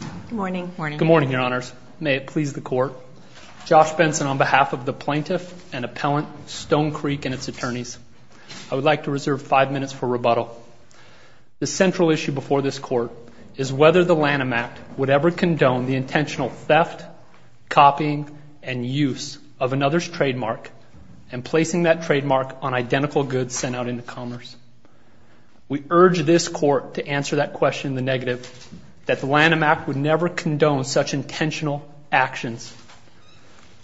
Good morning, Your Honors. May it please the Court. Josh Benson on behalf of the plaintiff and appellant, Stone Creek and its attorneys. I would like to reserve five minutes for rebuttal. The central issue before this Court is whether the Lanham Act would ever condone the intentional theft, copying, and use of another's trademark and placing that trademark on identical goods sent out into commerce. We urge this Court to answer that question in the negative, that the Lanham Act would never condone such intentional actions.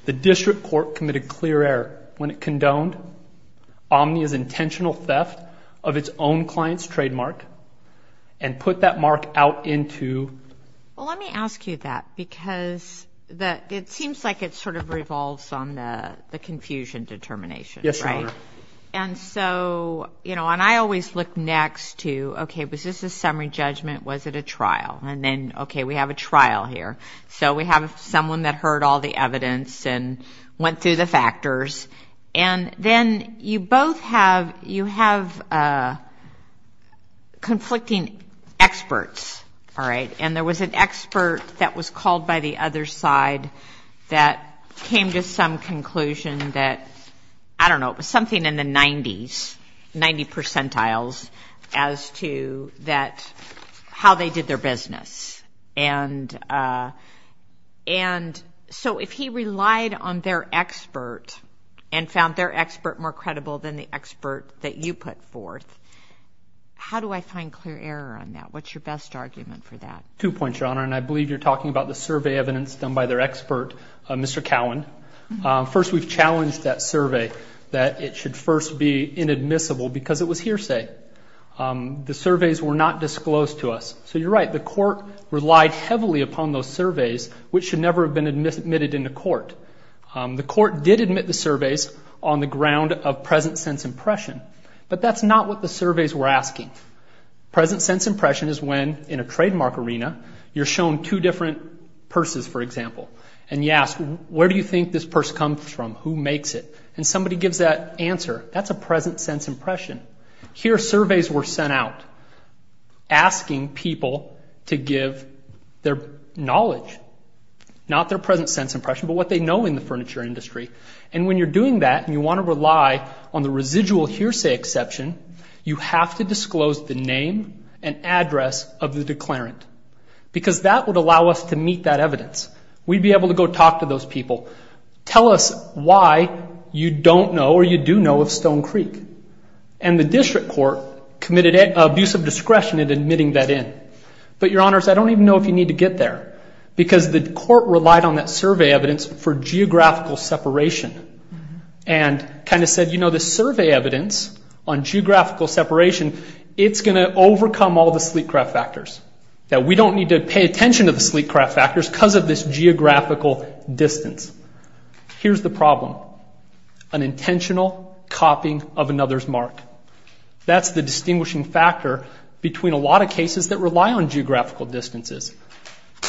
The District Court committed clear error when it condoned Omnia's intentional theft of its own client's trademark and put that mark out into... Well, let me ask you that because it seems like it sort of revolves on the confusion determination, right? Yes, Your Honor. And so, you know, and I always look next to, okay, was this a summary judgment? Was it a trial? And then, okay, we have a trial here. So we have someone that heard all the evidence and went through the factors. And then you both have, you have conflicting experts, all right? And there was an expert that was called by the other side that came to some conclusion that, I don't know, it was something in the 90s, 90 percentiles, as to that, how they did their business. And so if he relied on their expert and found their expert more credible than the expert that you put forth, how do I find clear error on that? What's your best argument for that? Two points, Your Honor, and I believe you're talking about the survey evidence done by their expert, Mr. Cowan. First, we've challenged that survey that it should first be inadmissible because it was hearsay. The surveys were not disclosed to us. So you're right, the court relied heavily upon those surveys, which should never have been admitted into court. The court did admit the surveys on the ground of present sense impression, but that's not what the You're shown two different purses, for example, and you ask, where do you think this purse comes from? Who makes it? And somebody gives that answer. That's a present sense impression. Here surveys were sent out asking people to give their knowledge, not their present sense impression, but what they know in the furniture industry. And when you're doing that and you want to rely on the residual hearsay exception, you have to disclose the name and address of the declarant because that would allow us to meet that evidence. We'd be able to go talk to those people. Tell us why you don't know or you do know of Stone Creek. And the district court committed an abuse of discretion in admitting that in. But Your Honors, I don't even know if you need to get there because the court relied on that survey evidence for geographical separation and kind of said, you know, the survey evidence on geographical separation, it's going to overcome all the sleek craft factors, that we don't need to pay attention to the sleek craft factors because of this geographical distance. Here's the problem. An intentional copying of another's mark. That's the distinguishing factor between a lot of cases that rely on geographical distances.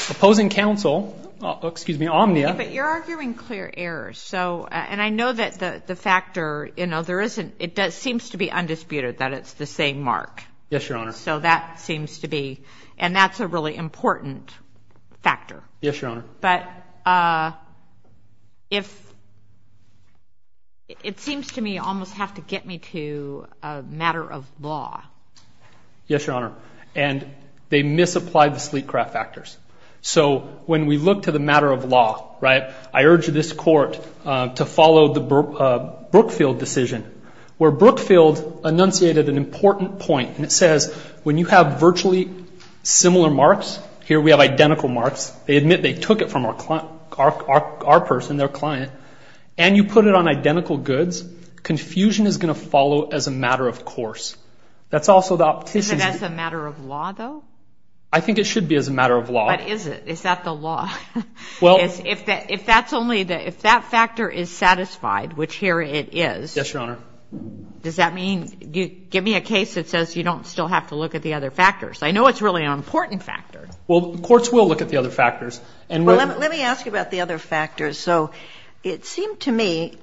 Opposing counsel, excuse me, Omnia. But you're arguing clear errors. So, and I know that the factor, you know, there isn't, it does, seems to be undisputed that it's the same mark. Yes, Your Honor. So that seems to be, and that's a really important factor. Yes, Your Honor. But if, it seems to me almost have to get me to a matter of law. Yes, Your Honor. And they misapplied the sleek craft factors. So when we look to the matter of law, right, I urge this court to follow the where Brookfield enunciated an important point. And it says, when you have virtually similar marks, here we have identical marks, they admit they took it from our client, our person, their client, and you put it on identical goods, confusion is going to follow as a matter of course. That's also the. Is it as a matter of law though? I think it should be as a matter of law. But is it? Is that the law? Well. If that's only the, if that factor is satisfied, which here it is. Yes, Your Honor. Does that mean, give me a case that says you don't still have to look at the other factors. I know it's really an important factor. Well, courts will look at the other factors. Well, let me ask you about the other factors. So it seemed to me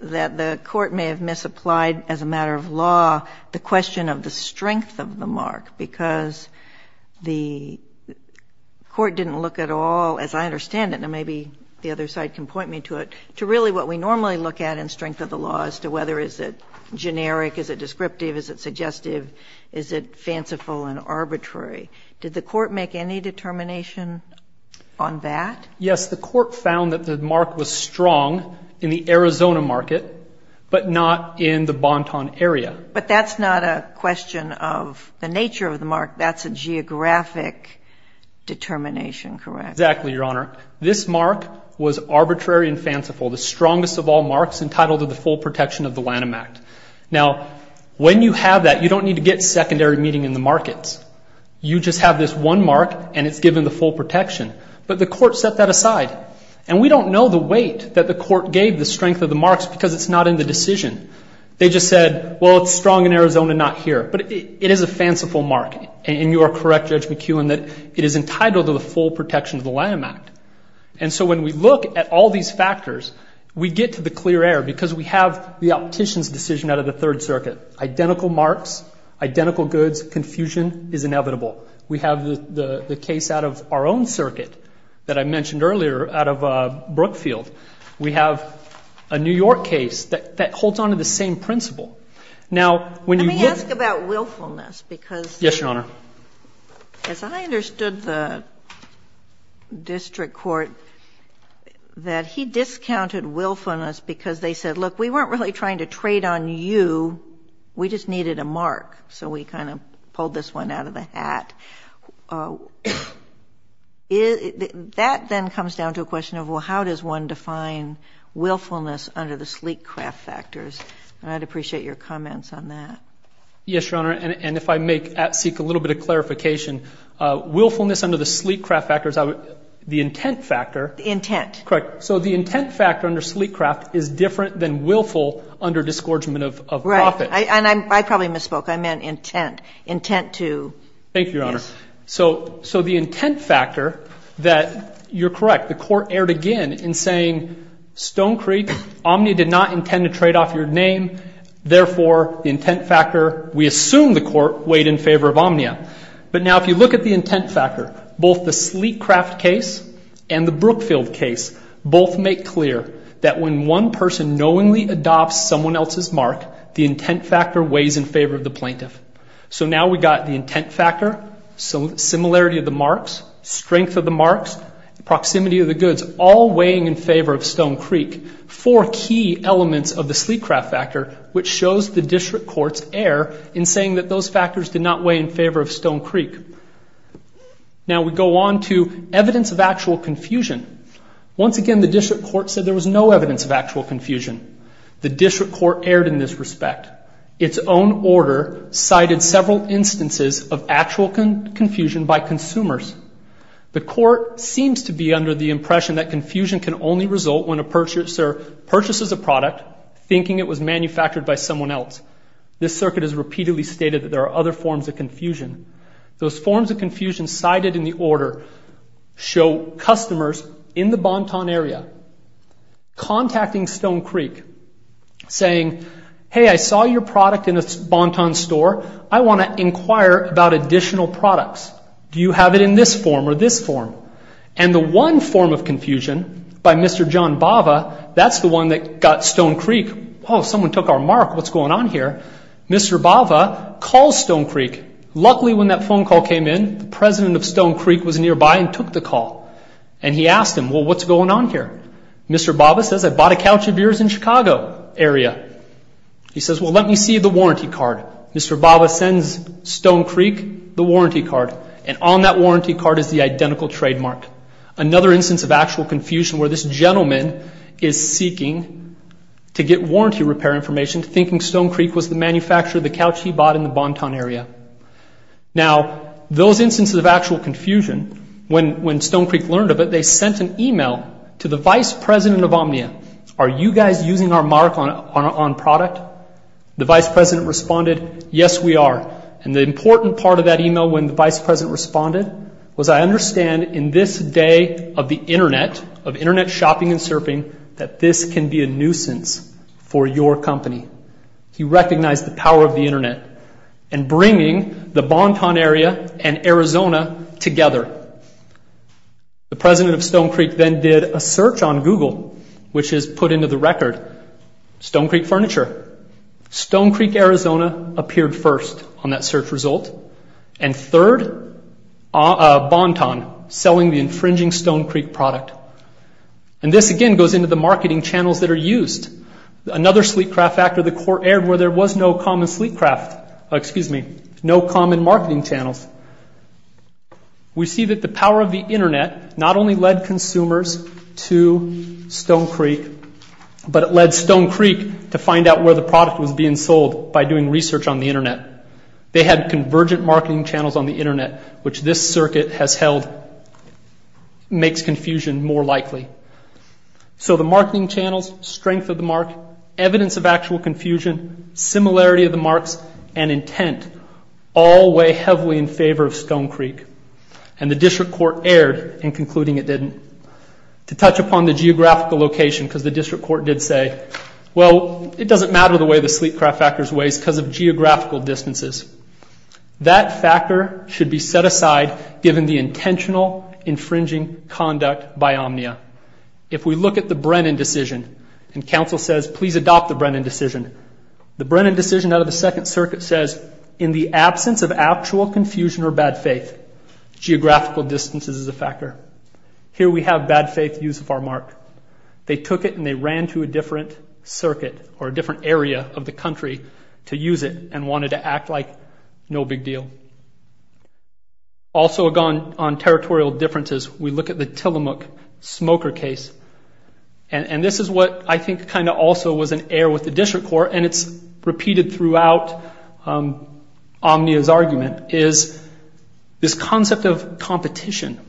that the court may have misapplied, as a matter of law, the question of the strength of the mark. Because the court didn't look at all, as I understand it, and maybe the other side can point me to it, to really what we normally look at in strength of the law as to whether is it generic, is it descriptive, is it suggestive, is it fanciful and arbitrary. Did the court make any determination on that? Yes, the court found that the mark was strong in the Arizona market, but not in the Bonton area. But that's not a question of the nature of the mark. That's a geographic determination, correct? Exactly, Your Honor. This mark was arbitrary and fanciful. The strongest of all marks entitled to the full protection of the Lanham Act. Now, when you have that, you don't need to get secondary meeting in the markets. You just have this one mark and it's given the full protection. But the court set that aside. And we don't know the weight that the court gave the strength of the marks because it's not in the decision. They just said, well, it's strong in Arizona, not here. But it is a fanciful mark. And you are correct, Judge McKeown, that it is entitled to the full protection of the Lanham Act. And so when we look at all these factors, we get to the clear air because we have the optician's decision out of the Third Circuit. Identical marks, identical goods, confusion is inevitable. We have the case out of our own circuit that I mentioned earlier out of Brookfield. We have a New York case that holds on to the same principle. Now, when you look — Let me ask about willfulness. Because — Yes, Your Honor. As I understood the District Court, that he discounted willfulness because they said, look, we weren't really trying to trade on you. We just needed a mark. So we kind of pulled this one out of the hat. That then comes down to a question of, well, how does one define willfulness under the sleek craft factors? And I'd appreciate your comments on that. Yes, Your Honor. And if I may seek a little bit of clarification, willfulness under the sleek craft factors, the intent factor — The intent. Correct. So the intent factor under sleek craft is different than willful under disgorgement of profit. Right. And I probably misspoke. I meant intent. Intent to — Thank you, Your Honor. So the intent factor that — you're correct. The Court erred again in saying, Stone Creek, Omnia did not intend to trade off your name. Therefore, the intent factor, we assume the Court weighed in favor of Omnia. But now if you look at the intent factor, both the sleek craft case and the Brookfield case both make clear that when one person knowingly adopts someone else's mark, the intent factor weighs in favor of the plaintiff. So now we've got the intent factor, similarity of the marks, strength of the marks, proximity of the goods, all weighing in favor of Stone Creek, four key elements of the sleek craft factor, which shows the District Court's error in saying that those factors did not weigh in favor of Stone Creek. Now we go on to evidence of actual confusion. Once again, the District Court said there was no evidence of actual confusion. The District Court erred in this respect. Its own order cited several instances of actual confusion by consumers. The Court seems to be under the impression that confusion can only result when a purchaser purchases a product thinking it was manufactured by someone else. This circuit has repeatedly stated that there are other forms of confusion. Those forms of confusion cited in the order show customers in the Bonton store, I want to inquire about additional products. Do you have it in this form or this form? And the one form of confusion by Mr. John Bava, that's the one that got Stone Creek, oh, someone took our mark, what's going on here? Mr. Bava calls Stone Creek. Luckily when that phone call came in, the president of Stone Creek was nearby and took the call. And he asked him, well, what's going on here? Mr. Bava says, I bought a couch of yours in Mr. Bava sends Stone Creek the warranty card and on that warranty card is the identical trademark. Another instance of actual confusion where this gentleman is seeking to get warranty repair information thinking Stone Creek was the manufacturer of the couch he bought in the Bonton area. Now, those instances of actual confusion, when Stone Creek learned of it, they sent an email to the vice president of Omnia. Are you guys using our mark on product? The vice president responded, yes, we are. And the important part of that email when the vice president responded was I understand in this day of the internet, of internet shopping and surfing, that this can be a nuisance for your company. He recognized the power of the internet and bringing the Bonton area and Arizona together. The president of Stone Creek then did a search on Google, which is put into the record, Stone Creek Furniture. Stone Creek, Arizona appeared first on that search result. And third, Bonton selling the infringing Stone Creek product. And this again goes into the marketing channels that are used. Another sleep craft actor, the court aired where there was no common sleep craft, excuse me, no common marketing channels. We see that the power of the internet not only led consumers to Stone Creek, but it led Stone Creek to find out where the product was being sold by doing research on the internet. They had convergent marketing channels on the internet, which this circuit has held, makes confusion more likely. So the marketing channels, strength of the mark, evidence of actual confusion, similarity of the marks, and intent all weigh heavily in favor of Stone Creek. And the district court aired in concluding it didn't. To touch upon the geographical location, because the district court did say, well, it doesn't matter the way the sleep craft factor weighs because of geographical distances. That factor should be set aside given the intentional infringing conduct by Omnia. If we look at the Brennan decision, and counsel says, please adopt the Brennan decision. The Brennan decision out of the Second Circuit says, in the absence of actual confusion or bad faith, geographical distances is a factor. Here we have bad faith use of our mark. They took it and they ran to a different circuit or a different area of the country to use it and wanted to act like no big deal. Also gone on territorial differences, we look at the Tillamook smoker case. And this is what I think kind of also was an air with the district court, and it's repeated throughout Omnia's argument, is this concept of competition.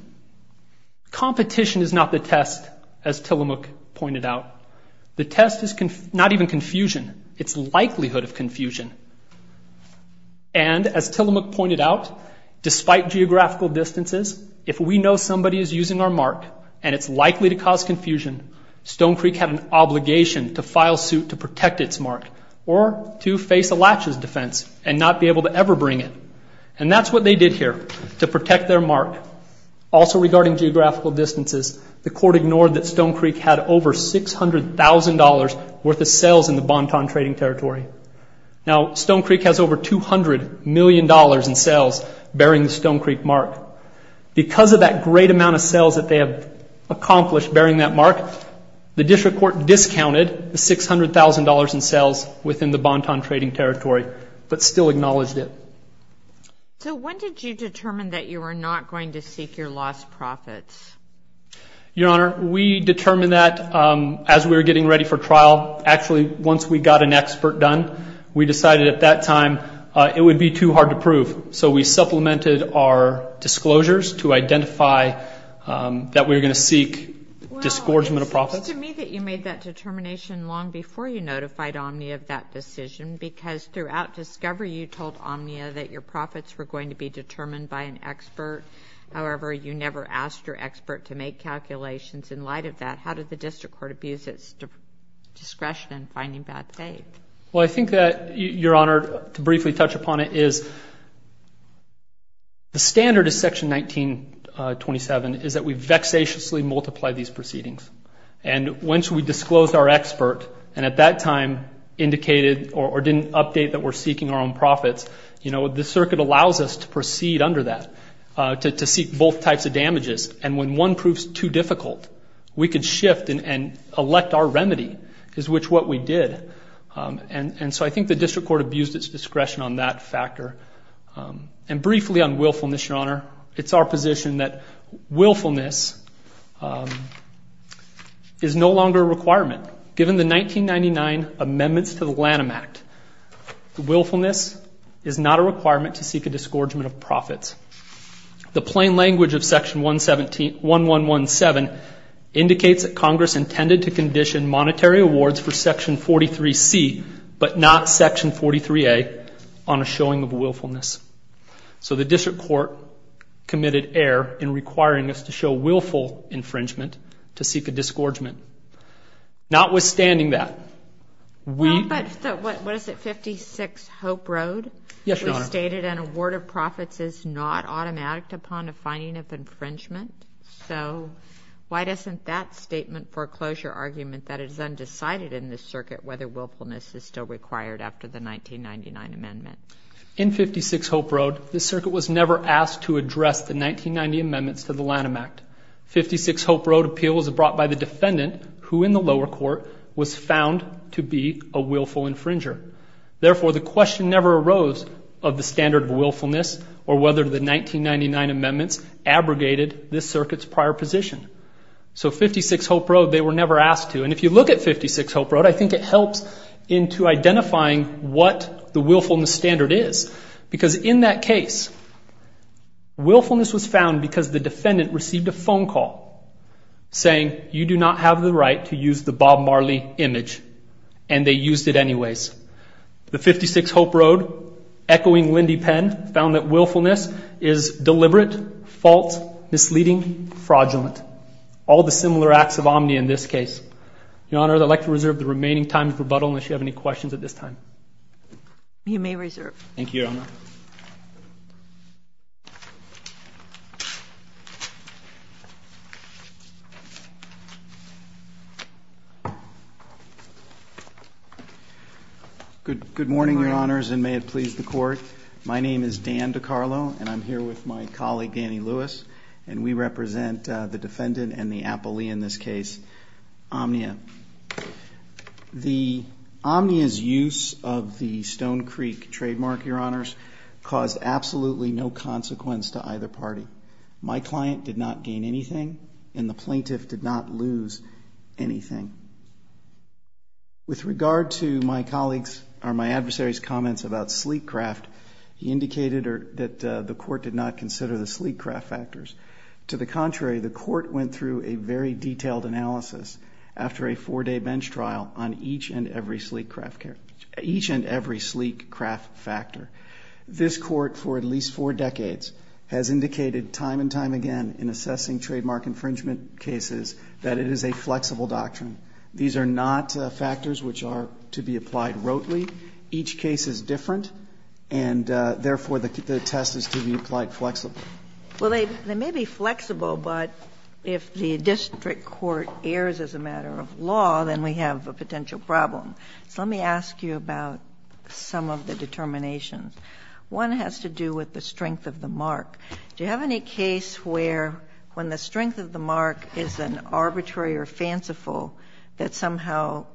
Competition is not the test, as Tillamook pointed out. The test is not even confusion. It's likelihood of confusion. And as Tillamook pointed out, despite geographical distances, if we know somebody is using our mark and it's likely to cause confusion, Stone Creek had an obligation to file suit to protect its mark or to face a latches defense and not be able to ever bring it. And that's what they did here, to protect their mark. Also regarding geographical distances, the court ignored that Stone Creek had over $600,000 worth of sales in the Bonton trading territory. Now Stone Creek has over $200 million in sales bearing the Stone Creek mark. Because of that great amount of sales that they have accomplished bearing that mark, the district court discounted the $600,000 in sales within the Bonton trading territory, but still acknowledged it. So when did you determine that you were not going to seek your lost profits? Your Honor, we determined that as we were getting ready for trial. Actually, once we got an expert done, we decided at that time it would be too hard to prove. So we supplemented our decision to identify that we were going to seek disgorgement of profits. Well, it's to me that you made that determination long before you notified Omnia of that decision, because throughout discovery you told Omnia that your profits were going to be determined by an expert. However, you never asked your expert to make calculations in light of that. How did the district court abuse its discretion in finding bad faith? Well, I think that, Your Honor, to briefly touch upon it is the standard of Section 1927 is that we vexatiously multiply these proceedings. And once we disclosed our expert and at that time indicated or didn't update that we're seeking our own profits, you know, the circuit allows us to proceed under that, to seek both types of damages. And when one proves too difficult, we could shift and elect our remedy, is which what we did. And so I think the district court abused its discretion on that factor. And briefly on willfulness, Your Honor, it's our position that willfulness is no longer a requirement. Given the 1999 Amendments to the Lanham Act, willfulness is not a requirement to seek a disgorgement of profits. The plain language of Section 1117 indicates that Congress intended to condition monetary awards for Section 43C but not Section 43A on a showing of willfulness. So the district court committed error in requiring us to show willful infringement to seek a disgorgement. Notwithstanding that, we... Well, but what is it, 56 Hope Road? Yes, Your Honor. It stated an award of profits is not automatic upon a finding of infringement. So why doesn't that statement foreclose your argument that it is undecided in this circuit whether willfulness is still required after the 1999 Amendment? In 56 Hope Road, the circuit was never asked to address the 1990 Amendments to the Lanham Act. 56 Hope Road appeal was brought by the defendant who in the lower court was found to be a willful infringer. Therefore, the standard of willfulness or whether the 1999 Amendments abrogated this circuit's prior position. So 56 Hope Road, they were never asked to. And if you look at 56 Hope Road, I think it helps into identifying what the willfulness standard is. Because in that case, willfulness was found because the defendant received a phone call saying, you do not have the right to use the Bob Marley image. And they used it anyways. The 56 Hope Road, echoing Lindy Penn, found that willfulness is deliberate, false, misleading, fraudulent. All the similar acts of omni in this case. Your Honor, I'd like to reserve the remaining time for rebuttal unless you have any questions at this time. You may reserve. Thank you, Your Honor. Good morning, Your Honors, and may it please the Court. My name is Dan DeCarlo, and I'm here with my colleague, Annie Lewis, and we represent the defendant and the appellee in this case, Omnia. The Omnia's use of the Stone Creek trademark, Your Honors, caused absolutely no consequence to either party. My client did not gain anything, and the plaintiff did not lose anything. With regard to my adversary's comments about sleek craft, he indicated that the Court did not consider the sleek craft factors. To the contrary, the Court went through a very detailed analysis after a four-day bench trial on each and every sleek craft factor. This Court, for at least four decades, has indicated time and time again in assessing trademark infringement cases that it is a flexible doctrine. These are not factors which are to be applied rotely. Each case is different, and therefore, the test is to be applied flexibly. Well, they may be flexible, but if the district court errs as a matter of law, then we have a potential problem. So let me ask you about some of the determinations. One has to do with the strength of the mark. Do you have any case where when the strength of the mark is an arbitrary or fanciful, that somehow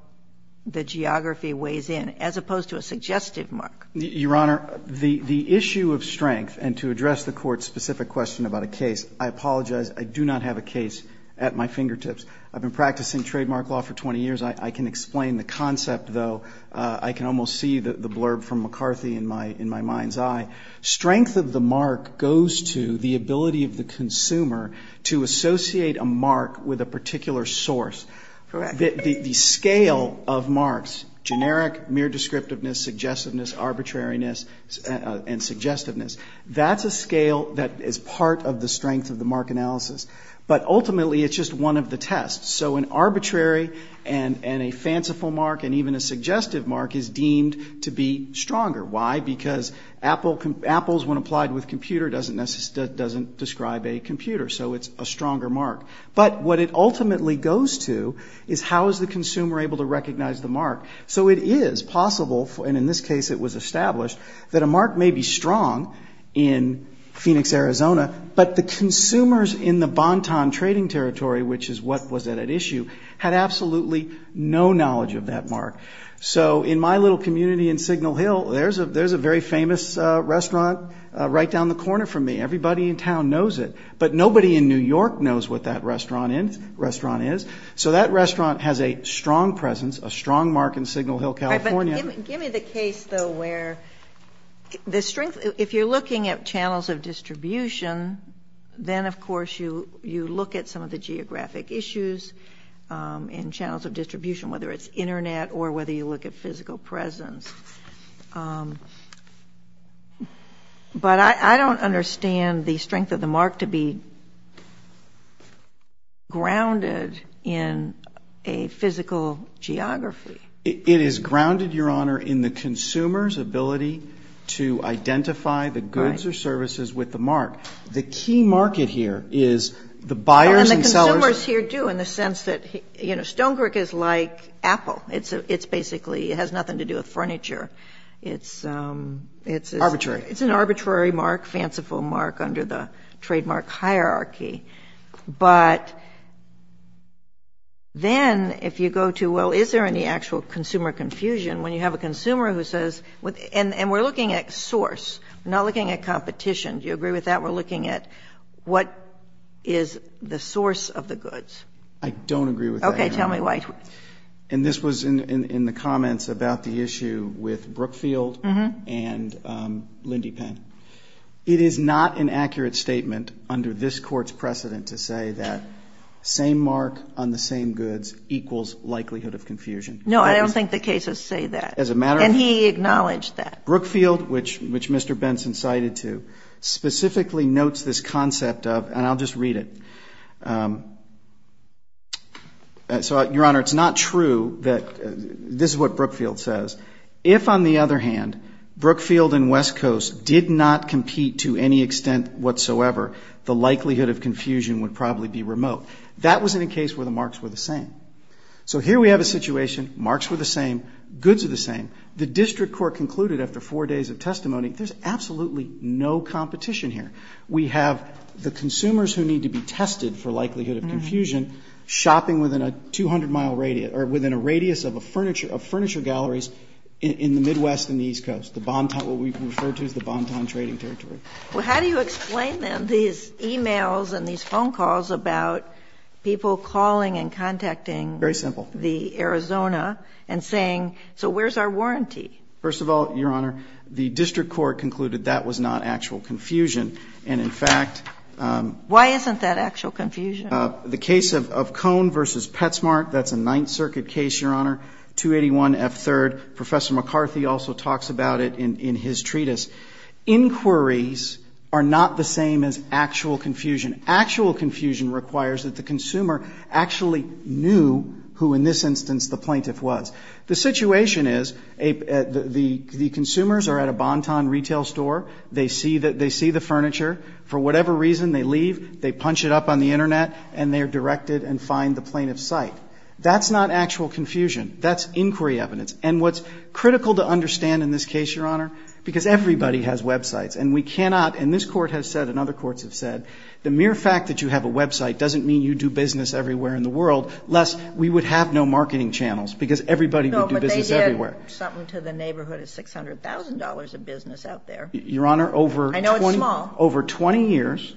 the geography weighs in, as opposed to a suggestive mark? Your Honor, the issue of strength, and to address the Court's specific question about a case, I apologize. I do not have a case at my fingertips. I've been practicing trademark law for 20 years. I can explain the concept, though. I can almost see the strength of the mark goes to the ability of the consumer to associate a mark with a particular source. Correct. The scale of marks, generic, mere descriptiveness, suggestiveness, arbitrariness, and suggestiveness, that's a scale that is part of the strength of the mark analysis. But ultimately, it's just one of the tests. So an arbitrary and a fanciful mark and even a suggestive mark is deemed to be stronger. Why? Because apples, when applied with computer, doesn't describe a computer, so it's a stronger mark. But what it ultimately goes to is how is the consumer able to recognize the mark? So it is possible, and in this case it was established, that a mark may be strong in Phoenix, Arizona, but the consumers in the Banton trading territory, which is what was at issue, had absolutely no knowledge of that mark. So in my little community in Signal Hill, there's a very famous restaurant right down the corner from me. Everybody in town knows it, but nobody in New York knows what that restaurant is. So that restaurant has a strong presence, a strong mark in Signal Hill, California. Give me the case, though, where the strength, if you're looking at channels of distribution, then, of course, you look at some of the geographic issues in channels of distribution, whether it's internet or whether you look at physical presence. But I don't understand the strength of the mark to be grounded in a physical geography. It is grounded, Your Honor, in the consumer's ability to identify the goods or services with the mark. The key market here is the buyers and sellers... Apple. It's basically, it has nothing to do with furniture. Arbitrary. It's an arbitrary mark, fanciful mark, under the trademark hierarchy. But then if you go to, well, is there any actual consumer confusion, when you have a consumer who says... And we're looking at source. We're not looking at competition. Do you agree with that? We're looking at what is the source of the goods. I don't agree with that, Your Honor. Tell me why. And this was in the comments about the issue with Brookfield and Lindy Penn. It is not an accurate statement under this Court's precedent to say that same mark on the same goods equals likelihood of confusion. No, I don't think the cases say that. As a matter of... And he acknowledged that. Brookfield, which Mr. Benson cited to, specifically notes this concept of, and I'll just read it. So, Your Honor, it's not true that... This is what Brookfield says. If on the other hand, Brookfield and West Coast did not compete to any extent whatsoever, the likelihood of confusion would probably be remote. That wasn't a case where the marks were the same. So here we have a situation. Marks were the same. Goods are the same. The District Court concluded after four days of testimony, there's absolutely no competition here. We have the likelihood of confusion, and we've tested for likelihood of confusion, shopping within a 200-mile radius, or within a radius of furniture galleries in the Midwest and the East Coast, what we refer to as the Bonton Trading Territory. Well, how do you explain then these e-mails and these phone calls about people calling and contacting the Arizona and saying, so where's our warranty? First of all, Your Honor, the District Court concluded that was not actual confusion. And in fact... Why isn't that actual confusion? The case of Cone v. Petsmart, that's a Ninth Circuit case, Your Honor, 281F3rd. Professor McCarthy also talks about it in his treatise. Inquiries are not the same as actual confusion. Actual confusion requires that the consumer actually knew who, in this instance, the plaintiff was. The situation is the consumers are at a Bonton retail store. They see the furniture. For whatever reason, they leave. They punch it up on the Internet, and they are directed and find the plaintiff's site. That's not actual confusion. That's inquiry evidence. And what's critical to understand in this case, Your Honor, because everybody has websites, and we cannot, and this Court has said and other courts have said, the mere fact that you have a website doesn't mean you do business everywhere in the world, lest we would have no marketing channels, because everybody would do business everywhere. No, but they did something to the neighborhood of $600,000 of business out there. Your Honor, over... I know it's small. Over 20 years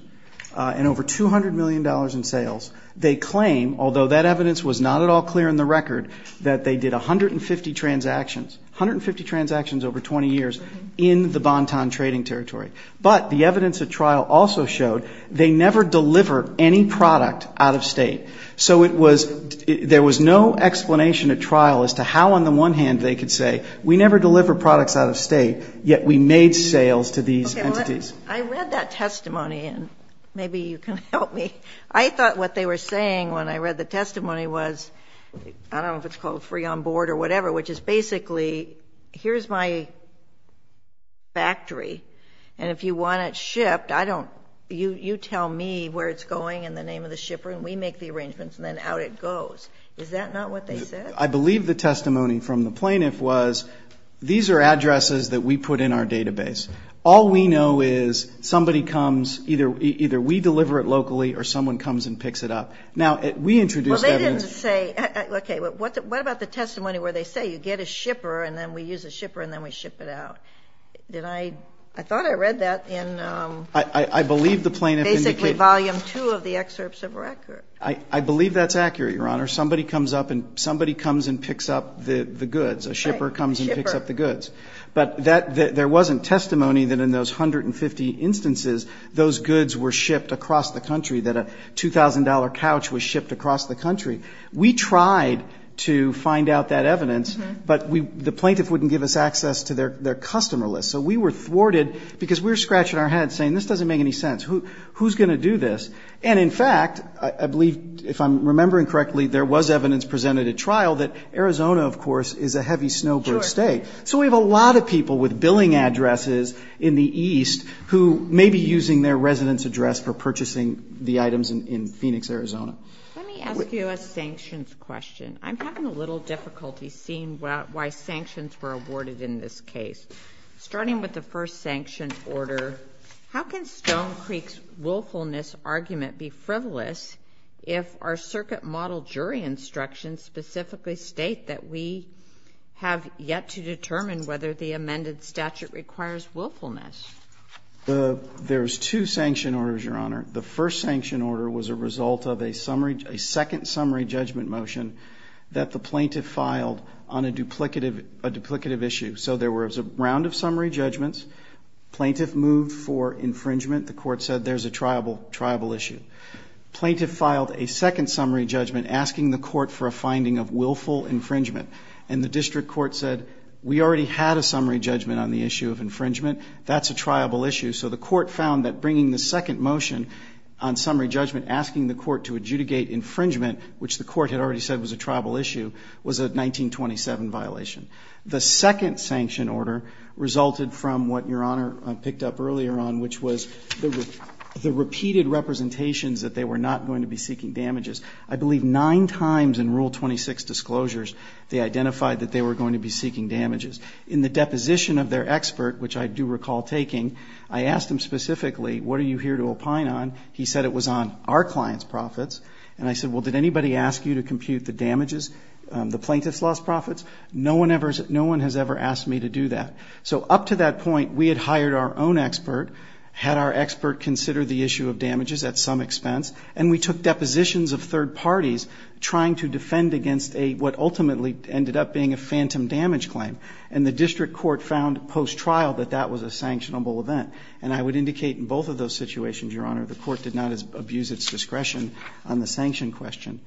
and over $200 million in sales, they claim, although that evidence was not at all clear in the record, that they did 150 transactions, 150 transactions over 20 years, in the Bonton trading territory. But the evidence at trial also showed they never deliver any product out of state. So it was, there was no explanation at trial as to how on the one hand they could say, we never deliver products out of state, yet we made sales to these entities. I read that testimony, and maybe you can help me. I thought what they were saying when I read the testimony was, I don't know if it's called free on board or whatever, which is basically, here's my factory, and if you want it shipped, I don't, you tell me where it's going and the name of the shipper, and we make the arrangements, and then out it goes. Is that not what they said? I believe the testimony from the plaintiff was, these are addresses that we put in our offices, somebody comes, either we deliver it locally, or someone comes and picks it up. Now, we introduced evidence. Well, they didn't say, okay, what about the testimony where they say you get a shipper and then we use a shipper and then we ship it out? Did I, I thought I read that in I believe the plaintiff indicated basically volume two of the excerpts of record. I believe that's accurate, Your Honor. Somebody comes up and somebody comes and picks up the goods. A shipper comes and picks up the goods. But that, there wasn't testimony that in those 150 instances, those goods were shipped across the country, that a $2,000 couch was shipped across the country. We tried to find out that evidence, but we, the plaintiff wouldn't give us access to their customer list. So we were thwarted because we were scratching our heads saying, this doesn't make any sense. Who's going to do this? And in fact, I believe, if I'm remembering correctly, there was evidence presented at trial that Arizona, of course, is a heavy snowboard state. So we have a lot of people with billing addresses in the east who may be using their resident's address for purchasing the items in Phoenix, Arizona. Let me ask you a sanctions question. I'm having a little difficulty seeing why sanctions were awarded in this case. Starting with the first sanction order, how can Stone Creek's willfulness argument be frivolous if our circuit model jury instructions specifically state that we have yet to determine whether the amended statute requires willfulness? There's two sanction orders, Your Honor. The first sanction order was a result of a summary, a second summary judgment motion that the plaintiff filed on a duplicative issue. So there was a round of summary judgments. Plaintiff moved for infringement. The court said there's a triable issue. Plaintiff filed a second summary judgment asking the district court said we already had a summary judgment on the issue of infringement. That's a triable issue. So the court found that bringing the second motion on summary judgment, asking the court to adjudicate infringement, which the court had already said was a triable issue, was a 1927 violation. The second sanction order resulted from what Your Honor picked up earlier on, which was the repeated representations that they were not going to be seeking damages. I believe nine times in Rule 26 disclosures they identified that they were going to be seeking damages. In the deposition of their expert, which I do recall taking, I asked him specifically, what are you here to opine on? He said it was on our client's profits. And I said, well, did anybody ask you to compute the damages, the plaintiff's lost profits? No one has ever asked me to do that. So up to that point, we had hired our own expert, had our expert consider the issue of damages at some expense, and we took depositions of third parties trying to defend against what ultimately ended up being a phantom damage claim. And the district court found post-trial that that was a sanctionable event. And I would indicate in both of those situations, Your Honor, the court did not abuse its discretion on the sanction question.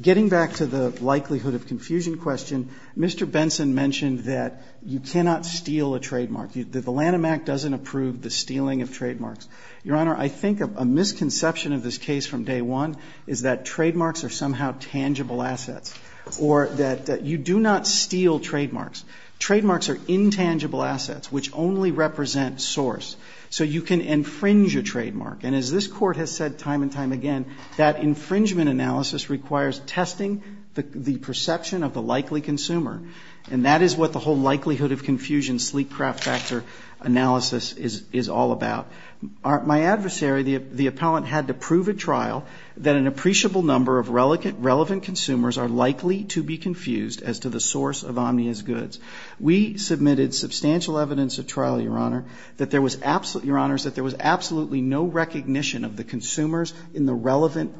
Getting back to the likelihood of confusion question, Mr. Benson mentioned that you cannot steal a trademark, that the Lanham Act doesn't approve the stealing of trademarks. Your Honor, I think a misconception of this case from day one is that trademarks are somehow tangible assets, or that you do not steal trademarks. Trademarks are intangible assets which only represent source. So you can infringe a trademark. And as this Court has said time and time again, that infringement analysis requires testing the perception of the likely consumer. And that is what the whole likelihood of confusion, sleek craft factor analysis is all about. My adversary, the appellant, had to prove at trial that an appreciable number of relevant consumers are likely to be confused as to the source of Omnia's goods. We submitted substantial evidence at trial, Your Honor, that there was absolutely no recognition of the consumers in the relevant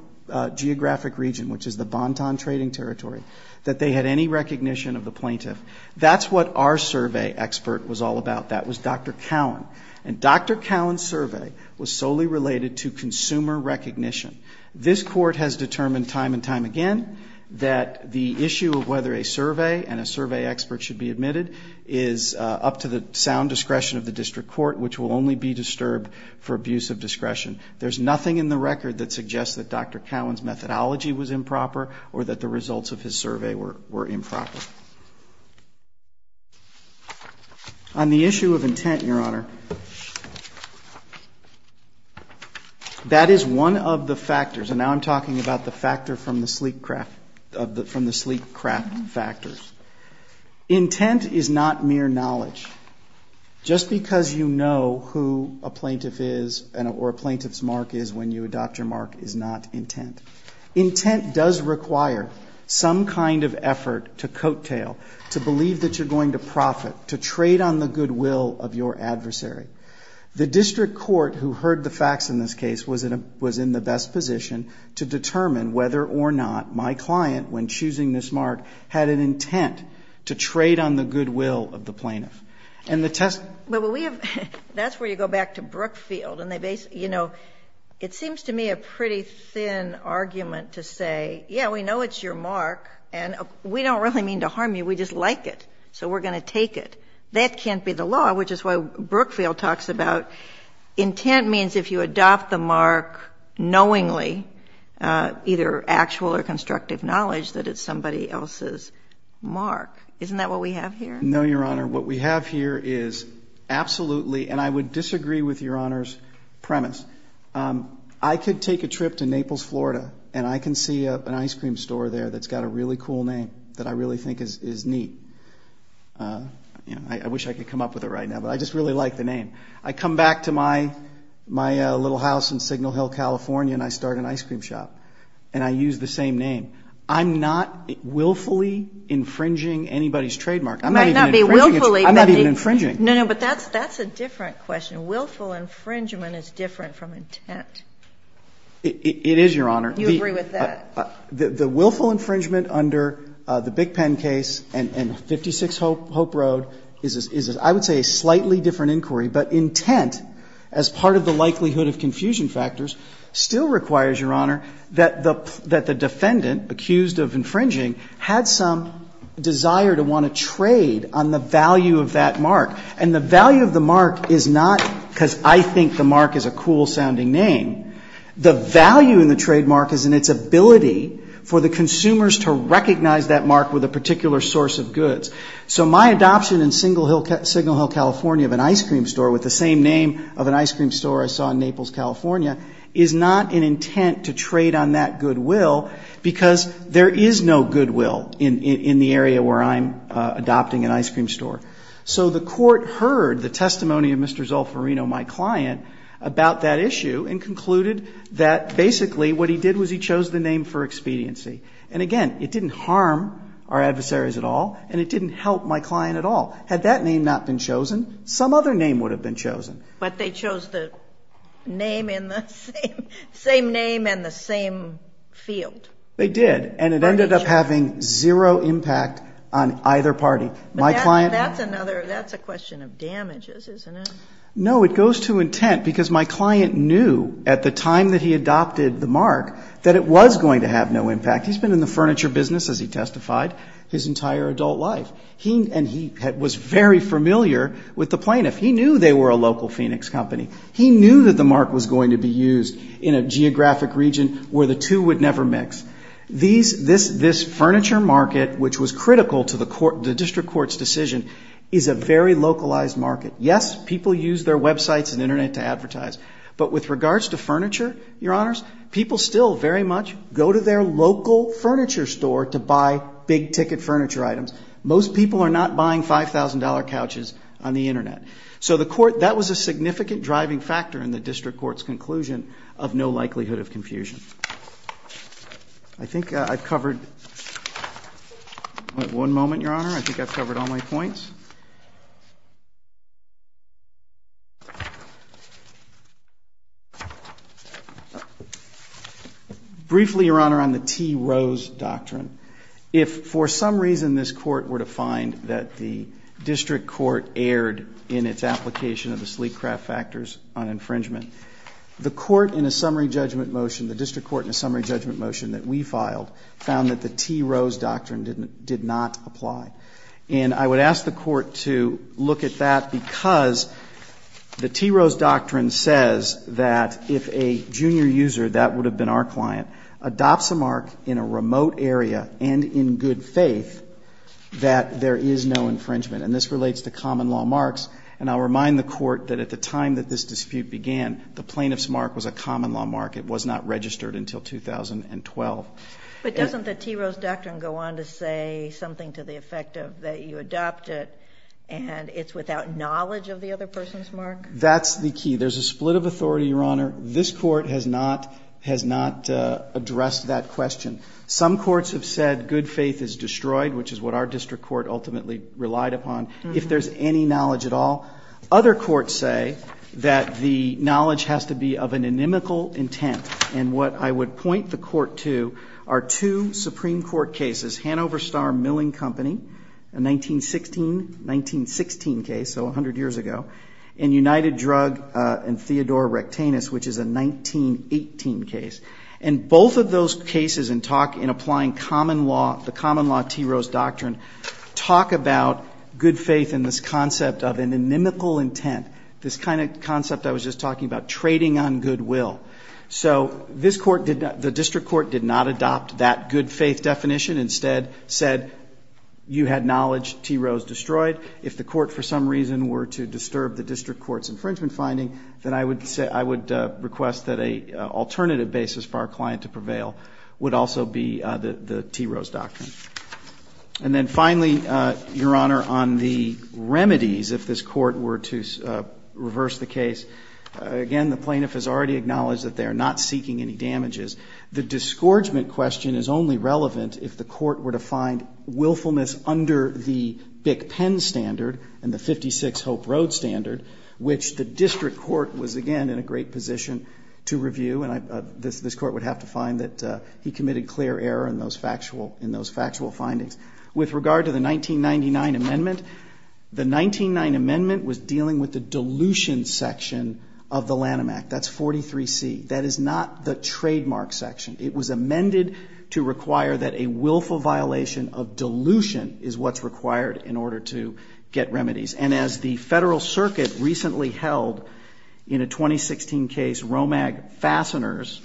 geographic region, which is the Banton trading territory, that they had any recognition of the plaintiff. That's what our survey expert was all about. That was Dr. Cowan. And Dr. Cowan's survey was solely related to consumer recognition. This Court has determined time and time again that the issue of whether a survey and a survey expert should be admitted is up to the sound discretion of the District Court, which will only be disturbed for abuse of discretion. There's nothing in the record that suggests that Dr. Cowan's methodology was improper or that the results of his survey were improper. On the issue of intent, Your Honor, that is one of the factors. And now I'm talking about the factor from the sleek craft, from the sleek craft factors. Intent is not mere knowledge. Just because you know who a plaintiff is or a plaintiff's mark is when you adopt your mark is not intent. Intent does require some kind of effort to coattail, to believe that you're going to profit, to trade on the goodwill of your adversary. The District Court, who heard the facts in this case, was in the best position to determine whether or not my client, when choosing this mark, had an intent to trade on the goodwill of the plaintiff. And the test But we have, that's where you go back to Brookfield. And they basically, you know, it seems to me a pretty thin argument to say, yeah, we know it's your mark, and we don't really mean to harm you. We just like it. So we're going to take it. That can't be the law, which is why Brookfield talks about intent means if you adopt the mark knowingly, either actual or constructive knowledge, that it's somebody else's mark. Isn't that what we have here? No, Your Honor. What we have here is absolutely and I would disagree with Your Honor's premise. I could take a trip to Naples, Florida, and I can see an ice cream store there that's got a really cool name that I really think is neat. I wish I could come up with it right now, but I just really like the name. I come back to my little house in Signal Hill, California, and I start an ice cream shop, and I use the same name. I'm not willfully infringing anybody's trademark. I'm not even infringing. No, no, but that's a different question. Willful infringement is different from intent. It is, Your Honor. You agree with that? The willful infringement under the Big Pen case and 56 Hope Road is, I would say, a slightly different inquiry. But intent, as part of the likelihood of confusion factors, still requires, Your Honor, that the defendant accused of infringing had some desire to want to trade on the value of that mark. And the value of the mark is not because I think the mark is a cool-sounding name. The value in the trademark is in its ability for the consumers to recognize that mark with a particular source of goods. So my adoption in Signal Hill, California, of an ice cream store with the same name of an ice cream store I saw in Naples, California, is not an intent to trade on that goodwill because there is no goodwill in the area where I'm adopting an ice cream store. So the court heard the testimony of Mr. Zolfarino, my client, about that issue and concluded that basically what he did was he chose the name for expediency. And again, it didn't harm our adversaries at all, and it didn't help my client at all. Had that name not been chosen, some other name would have been chosen. But they chose the name in the same, same name and the same field. They did. And it ended up having zero impact on either party. My client... But that's another, that's a question of damages, isn't it? No, it goes to intent because my client knew at the time that he adopted the mark that it was going to have no impact. He's been in the furniture business, as he testified, his entire adult life. He, and he was very familiar with the plaintiff. He knew they were a local Phoenix company. He knew that the mark was going to be used in a geographic region where the two would never mix. These, this, this furniture market, which was critical to the court, the district court's decision, is a very localized market. Yes, people use their websites and internet to advertise. But with regards to furniture, your honors, people still very much go to their local furniture store to buy big ticket furniture items. Most people are not buying $5,000 couches on the internet. So the court, that was a significant driving factor in the district court's conclusion of no likelihood of confusion. I think I've covered... One moment, your honor. I think I've covered all my points. Briefly, your honor, on the T. Rose Doctrine. If for some reason this court were to find that the district court erred in its application of the sleep craft factors on infringement, the court in a summary judgment motion, the district court in a summary judgment motion that we filed, found that the T. Rose Doctrine did not look at that because the T. Rose Doctrine says that if a junior user, that would have been our client, adopts a mark in a remote area and in good faith, that there is no infringement. And this relates to common law marks. And I'll remind the court that at the time that this dispute began, the plaintiff's mark was a common law mark. It was not registered until 2012. But doesn't the T. Rose Doctrine go on to say something to the effect of that you adopt it and it's without knowledge of the other person's mark? That's the key. There's a split of authority, your honor. This court has not addressed that question. Some courts have said good faith is destroyed, which is what our district court ultimately relied upon, if there's any knowledge at all. Other courts say that the knowledge has to be of an inimical intent. And what I would point the court to is the 1916 case, so 100 years ago, and United Drug and Theodore Rectanus, which is a 1918 case. And both of those cases and talk in applying common law, the common law T. Rose Doctrine, talk about good faith and this concept of an inimical intent, this kind of concept I was just talking about, trading on goodwill. So this court did not, the district court did not adopt that good faith definition, instead said you had knowledge T. Rose destroyed. If the court for some reason were to disturb the district court's infringement finding, then I would request that an alternative basis for our client to prevail would also be the T. Rose Doctrine. And then finally, your honor, on the remedies, if this court were to reverse the case, again, the plaintiff has already acknowledged that they are not seeking any damages. The disgorgement question is only relevant if the court were to find willfulness under the BICPEN standard and the 56 Hope Road standard, which the district court was, again, in a great position to review. And this court would have to find that he committed clear error in those factual findings. With regard to the 1999 amendment, the 1999 amendment was dealing with the dilution section of the Lanham Act. That's 43C. That is not the trademark section. It was amended to require that a willful violation of dilution is what's required in order to get remedies. And as the Federal Circuit recently held in a 2016 case, Romag Fasteners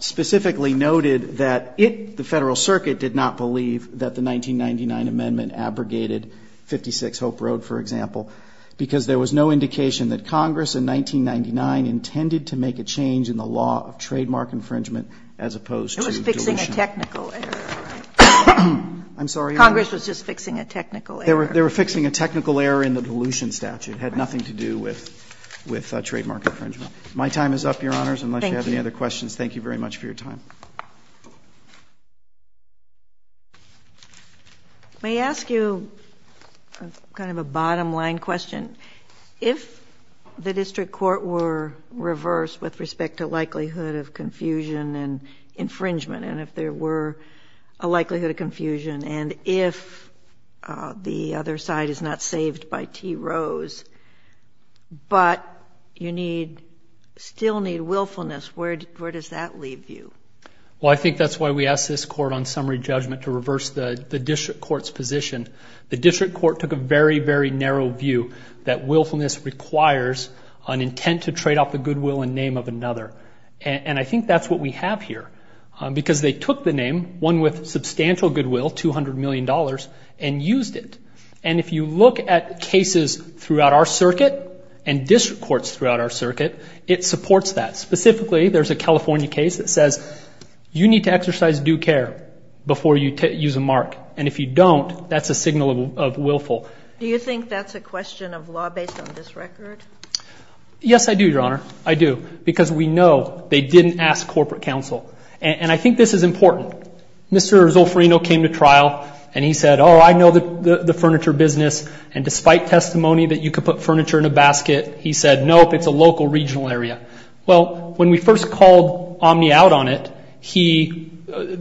specifically noted that it, the Federal Circuit, did not believe that the 1999 amendment abrogated 56 Hope Road, for example, because there was no indication that Congress in 1999 intended to make a change in the law of trademark infringement as opposed to dilution. It was fixing a technical error. I'm sorry, Your Honor. Congress was just fixing a technical error. They were fixing a technical error in the dilution statute. It had nothing to do with trademark infringement. My time is up, Your Honors. Thank you. Unless you have any other questions, thank you very much for your time. May I ask you kind of a bottom line question? If the district court were reversed with respect to likelihood of confusion and infringement, and if there were a likelihood of confusion, and if the other side is not saved by T. Rose, but you still need willfulness, where does that leave you? Well, I think that's why we asked this court on summary judgment to reverse the district court's position. The district court took a very, very narrow view that willfulness requires an intent to trade off the goodwill and name of another. And I think that's what we have here, because they took the name, one with substantial goodwill, $200 million, and used it. And if you look at cases throughout our circuit and district courts throughout our district courts, you need to exercise due care before you use a mark. And if you don't, that's a signal of willful. Do you think that's a question of law based on this record? Yes, I do, Your Honor. I do. Because we know they didn't ask corporate counsel. And I think this is important. Mr. Zolfarino came to trial and he said, oh, I know the furniture business, and despite testimony that you could put furniture in a basket, he said, nope, it's a local regional area. Well, when we first called Omni out on it,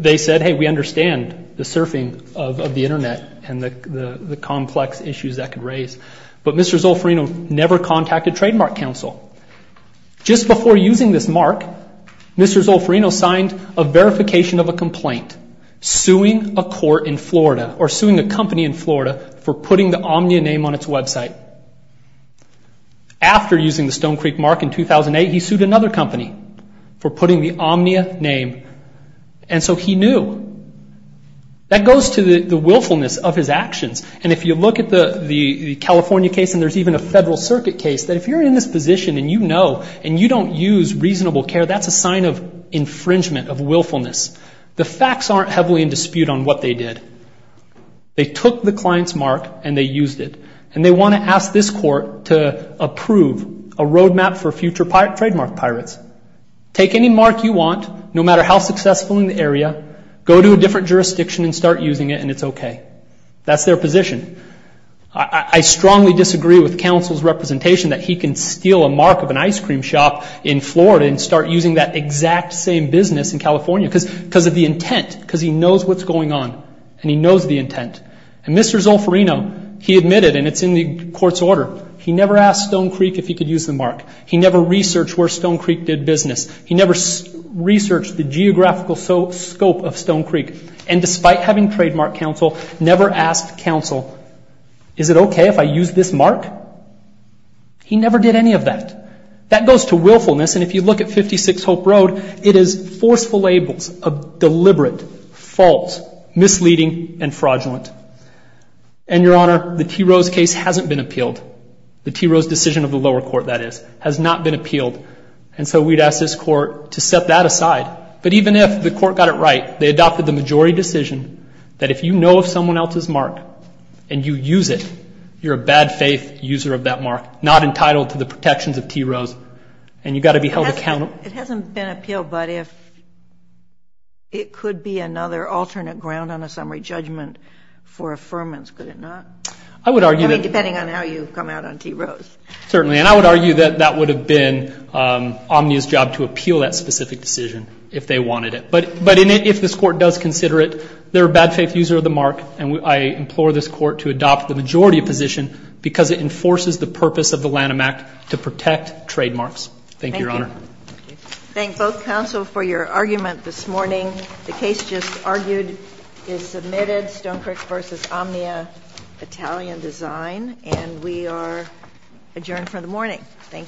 they said, hey, we understand the surfing of the Internet and the complex issues that could raise. But Mr. Zolfarino never contacted trademark counsel. Just before using this mark, Mr. Zolfarino signed a verification of a complaint suing a court in Florida or suing a company in Florida for putting the Omni name on its website. After using the Stone Creek mark in 2008, he sued another company for putting the Omni name. And so he knew. That goes to the willfulness of his actions. And if you look at the California case and there's even a Federal Circuit case, that if you're in this position and you know and you don't use reasonable care, that's a sign of infringement, of willfulness. The facts aren't heavily in dispute on what they did. They took the client's mark and they used it. And they want to ask this court to approve a roadmap for future trademark pirates. Take any mark you want, no matter how successful in the area, go to a different jurisdiction and start using it and it's okay. That's their position. I strongly disagree with counsel's representation that he can steal a mark of an ice cream shop in Florida and start using that exact same business in California because of the intent, because he knows what's going on and he knows the intent. And Mr. Zolfarino, he admitted, and it's in the court's order, he never asked Stone Creek if he could use the mark. He never researched where Stone Creek did business. He never researched the geographical scope of Stone Creek. And despite having trademark counsel, never asked counsel, is it okay if I use this mark? He never did any of that. That goes to willfulness. And if you look at 56 Hope Road, it is forceful labels of deliberate, false, misleading, and fraudulent. And, Your Honor, the T. Rose case hasn't been appealed. The T. Rose decision of the lower court, that is, has not been appealed. And so we'd ask this court to set that aside. But even if the court got it right, they adopted the majority decision that if you know if someone else's mark and you use it, you're a bad faith user of that mark, not entitled to the protections of T. Rose, and you've got to be held accountable. It hasn't been appealed. But if it could be another alternate ground on a summary judgment for affirmance, could it not? I would argue that. I mean, depending on how you come out on T. Rose. Certainly. And I would argue that that would have been Omnia's job to appeal that specific decision if they wanted it. But in it, if this court does consider it, they're a bad faith user of the mark. And I implore this court to adopt the majority position because it enforces the purpose of the Lanham Act to protect trademarks. Thank you, Your Honor. Thank both counsel for your argument this morning. The case just argued is submitted. Stone Creek versus Omnia, Italian design. And we are adjourned for the morning. Thank you.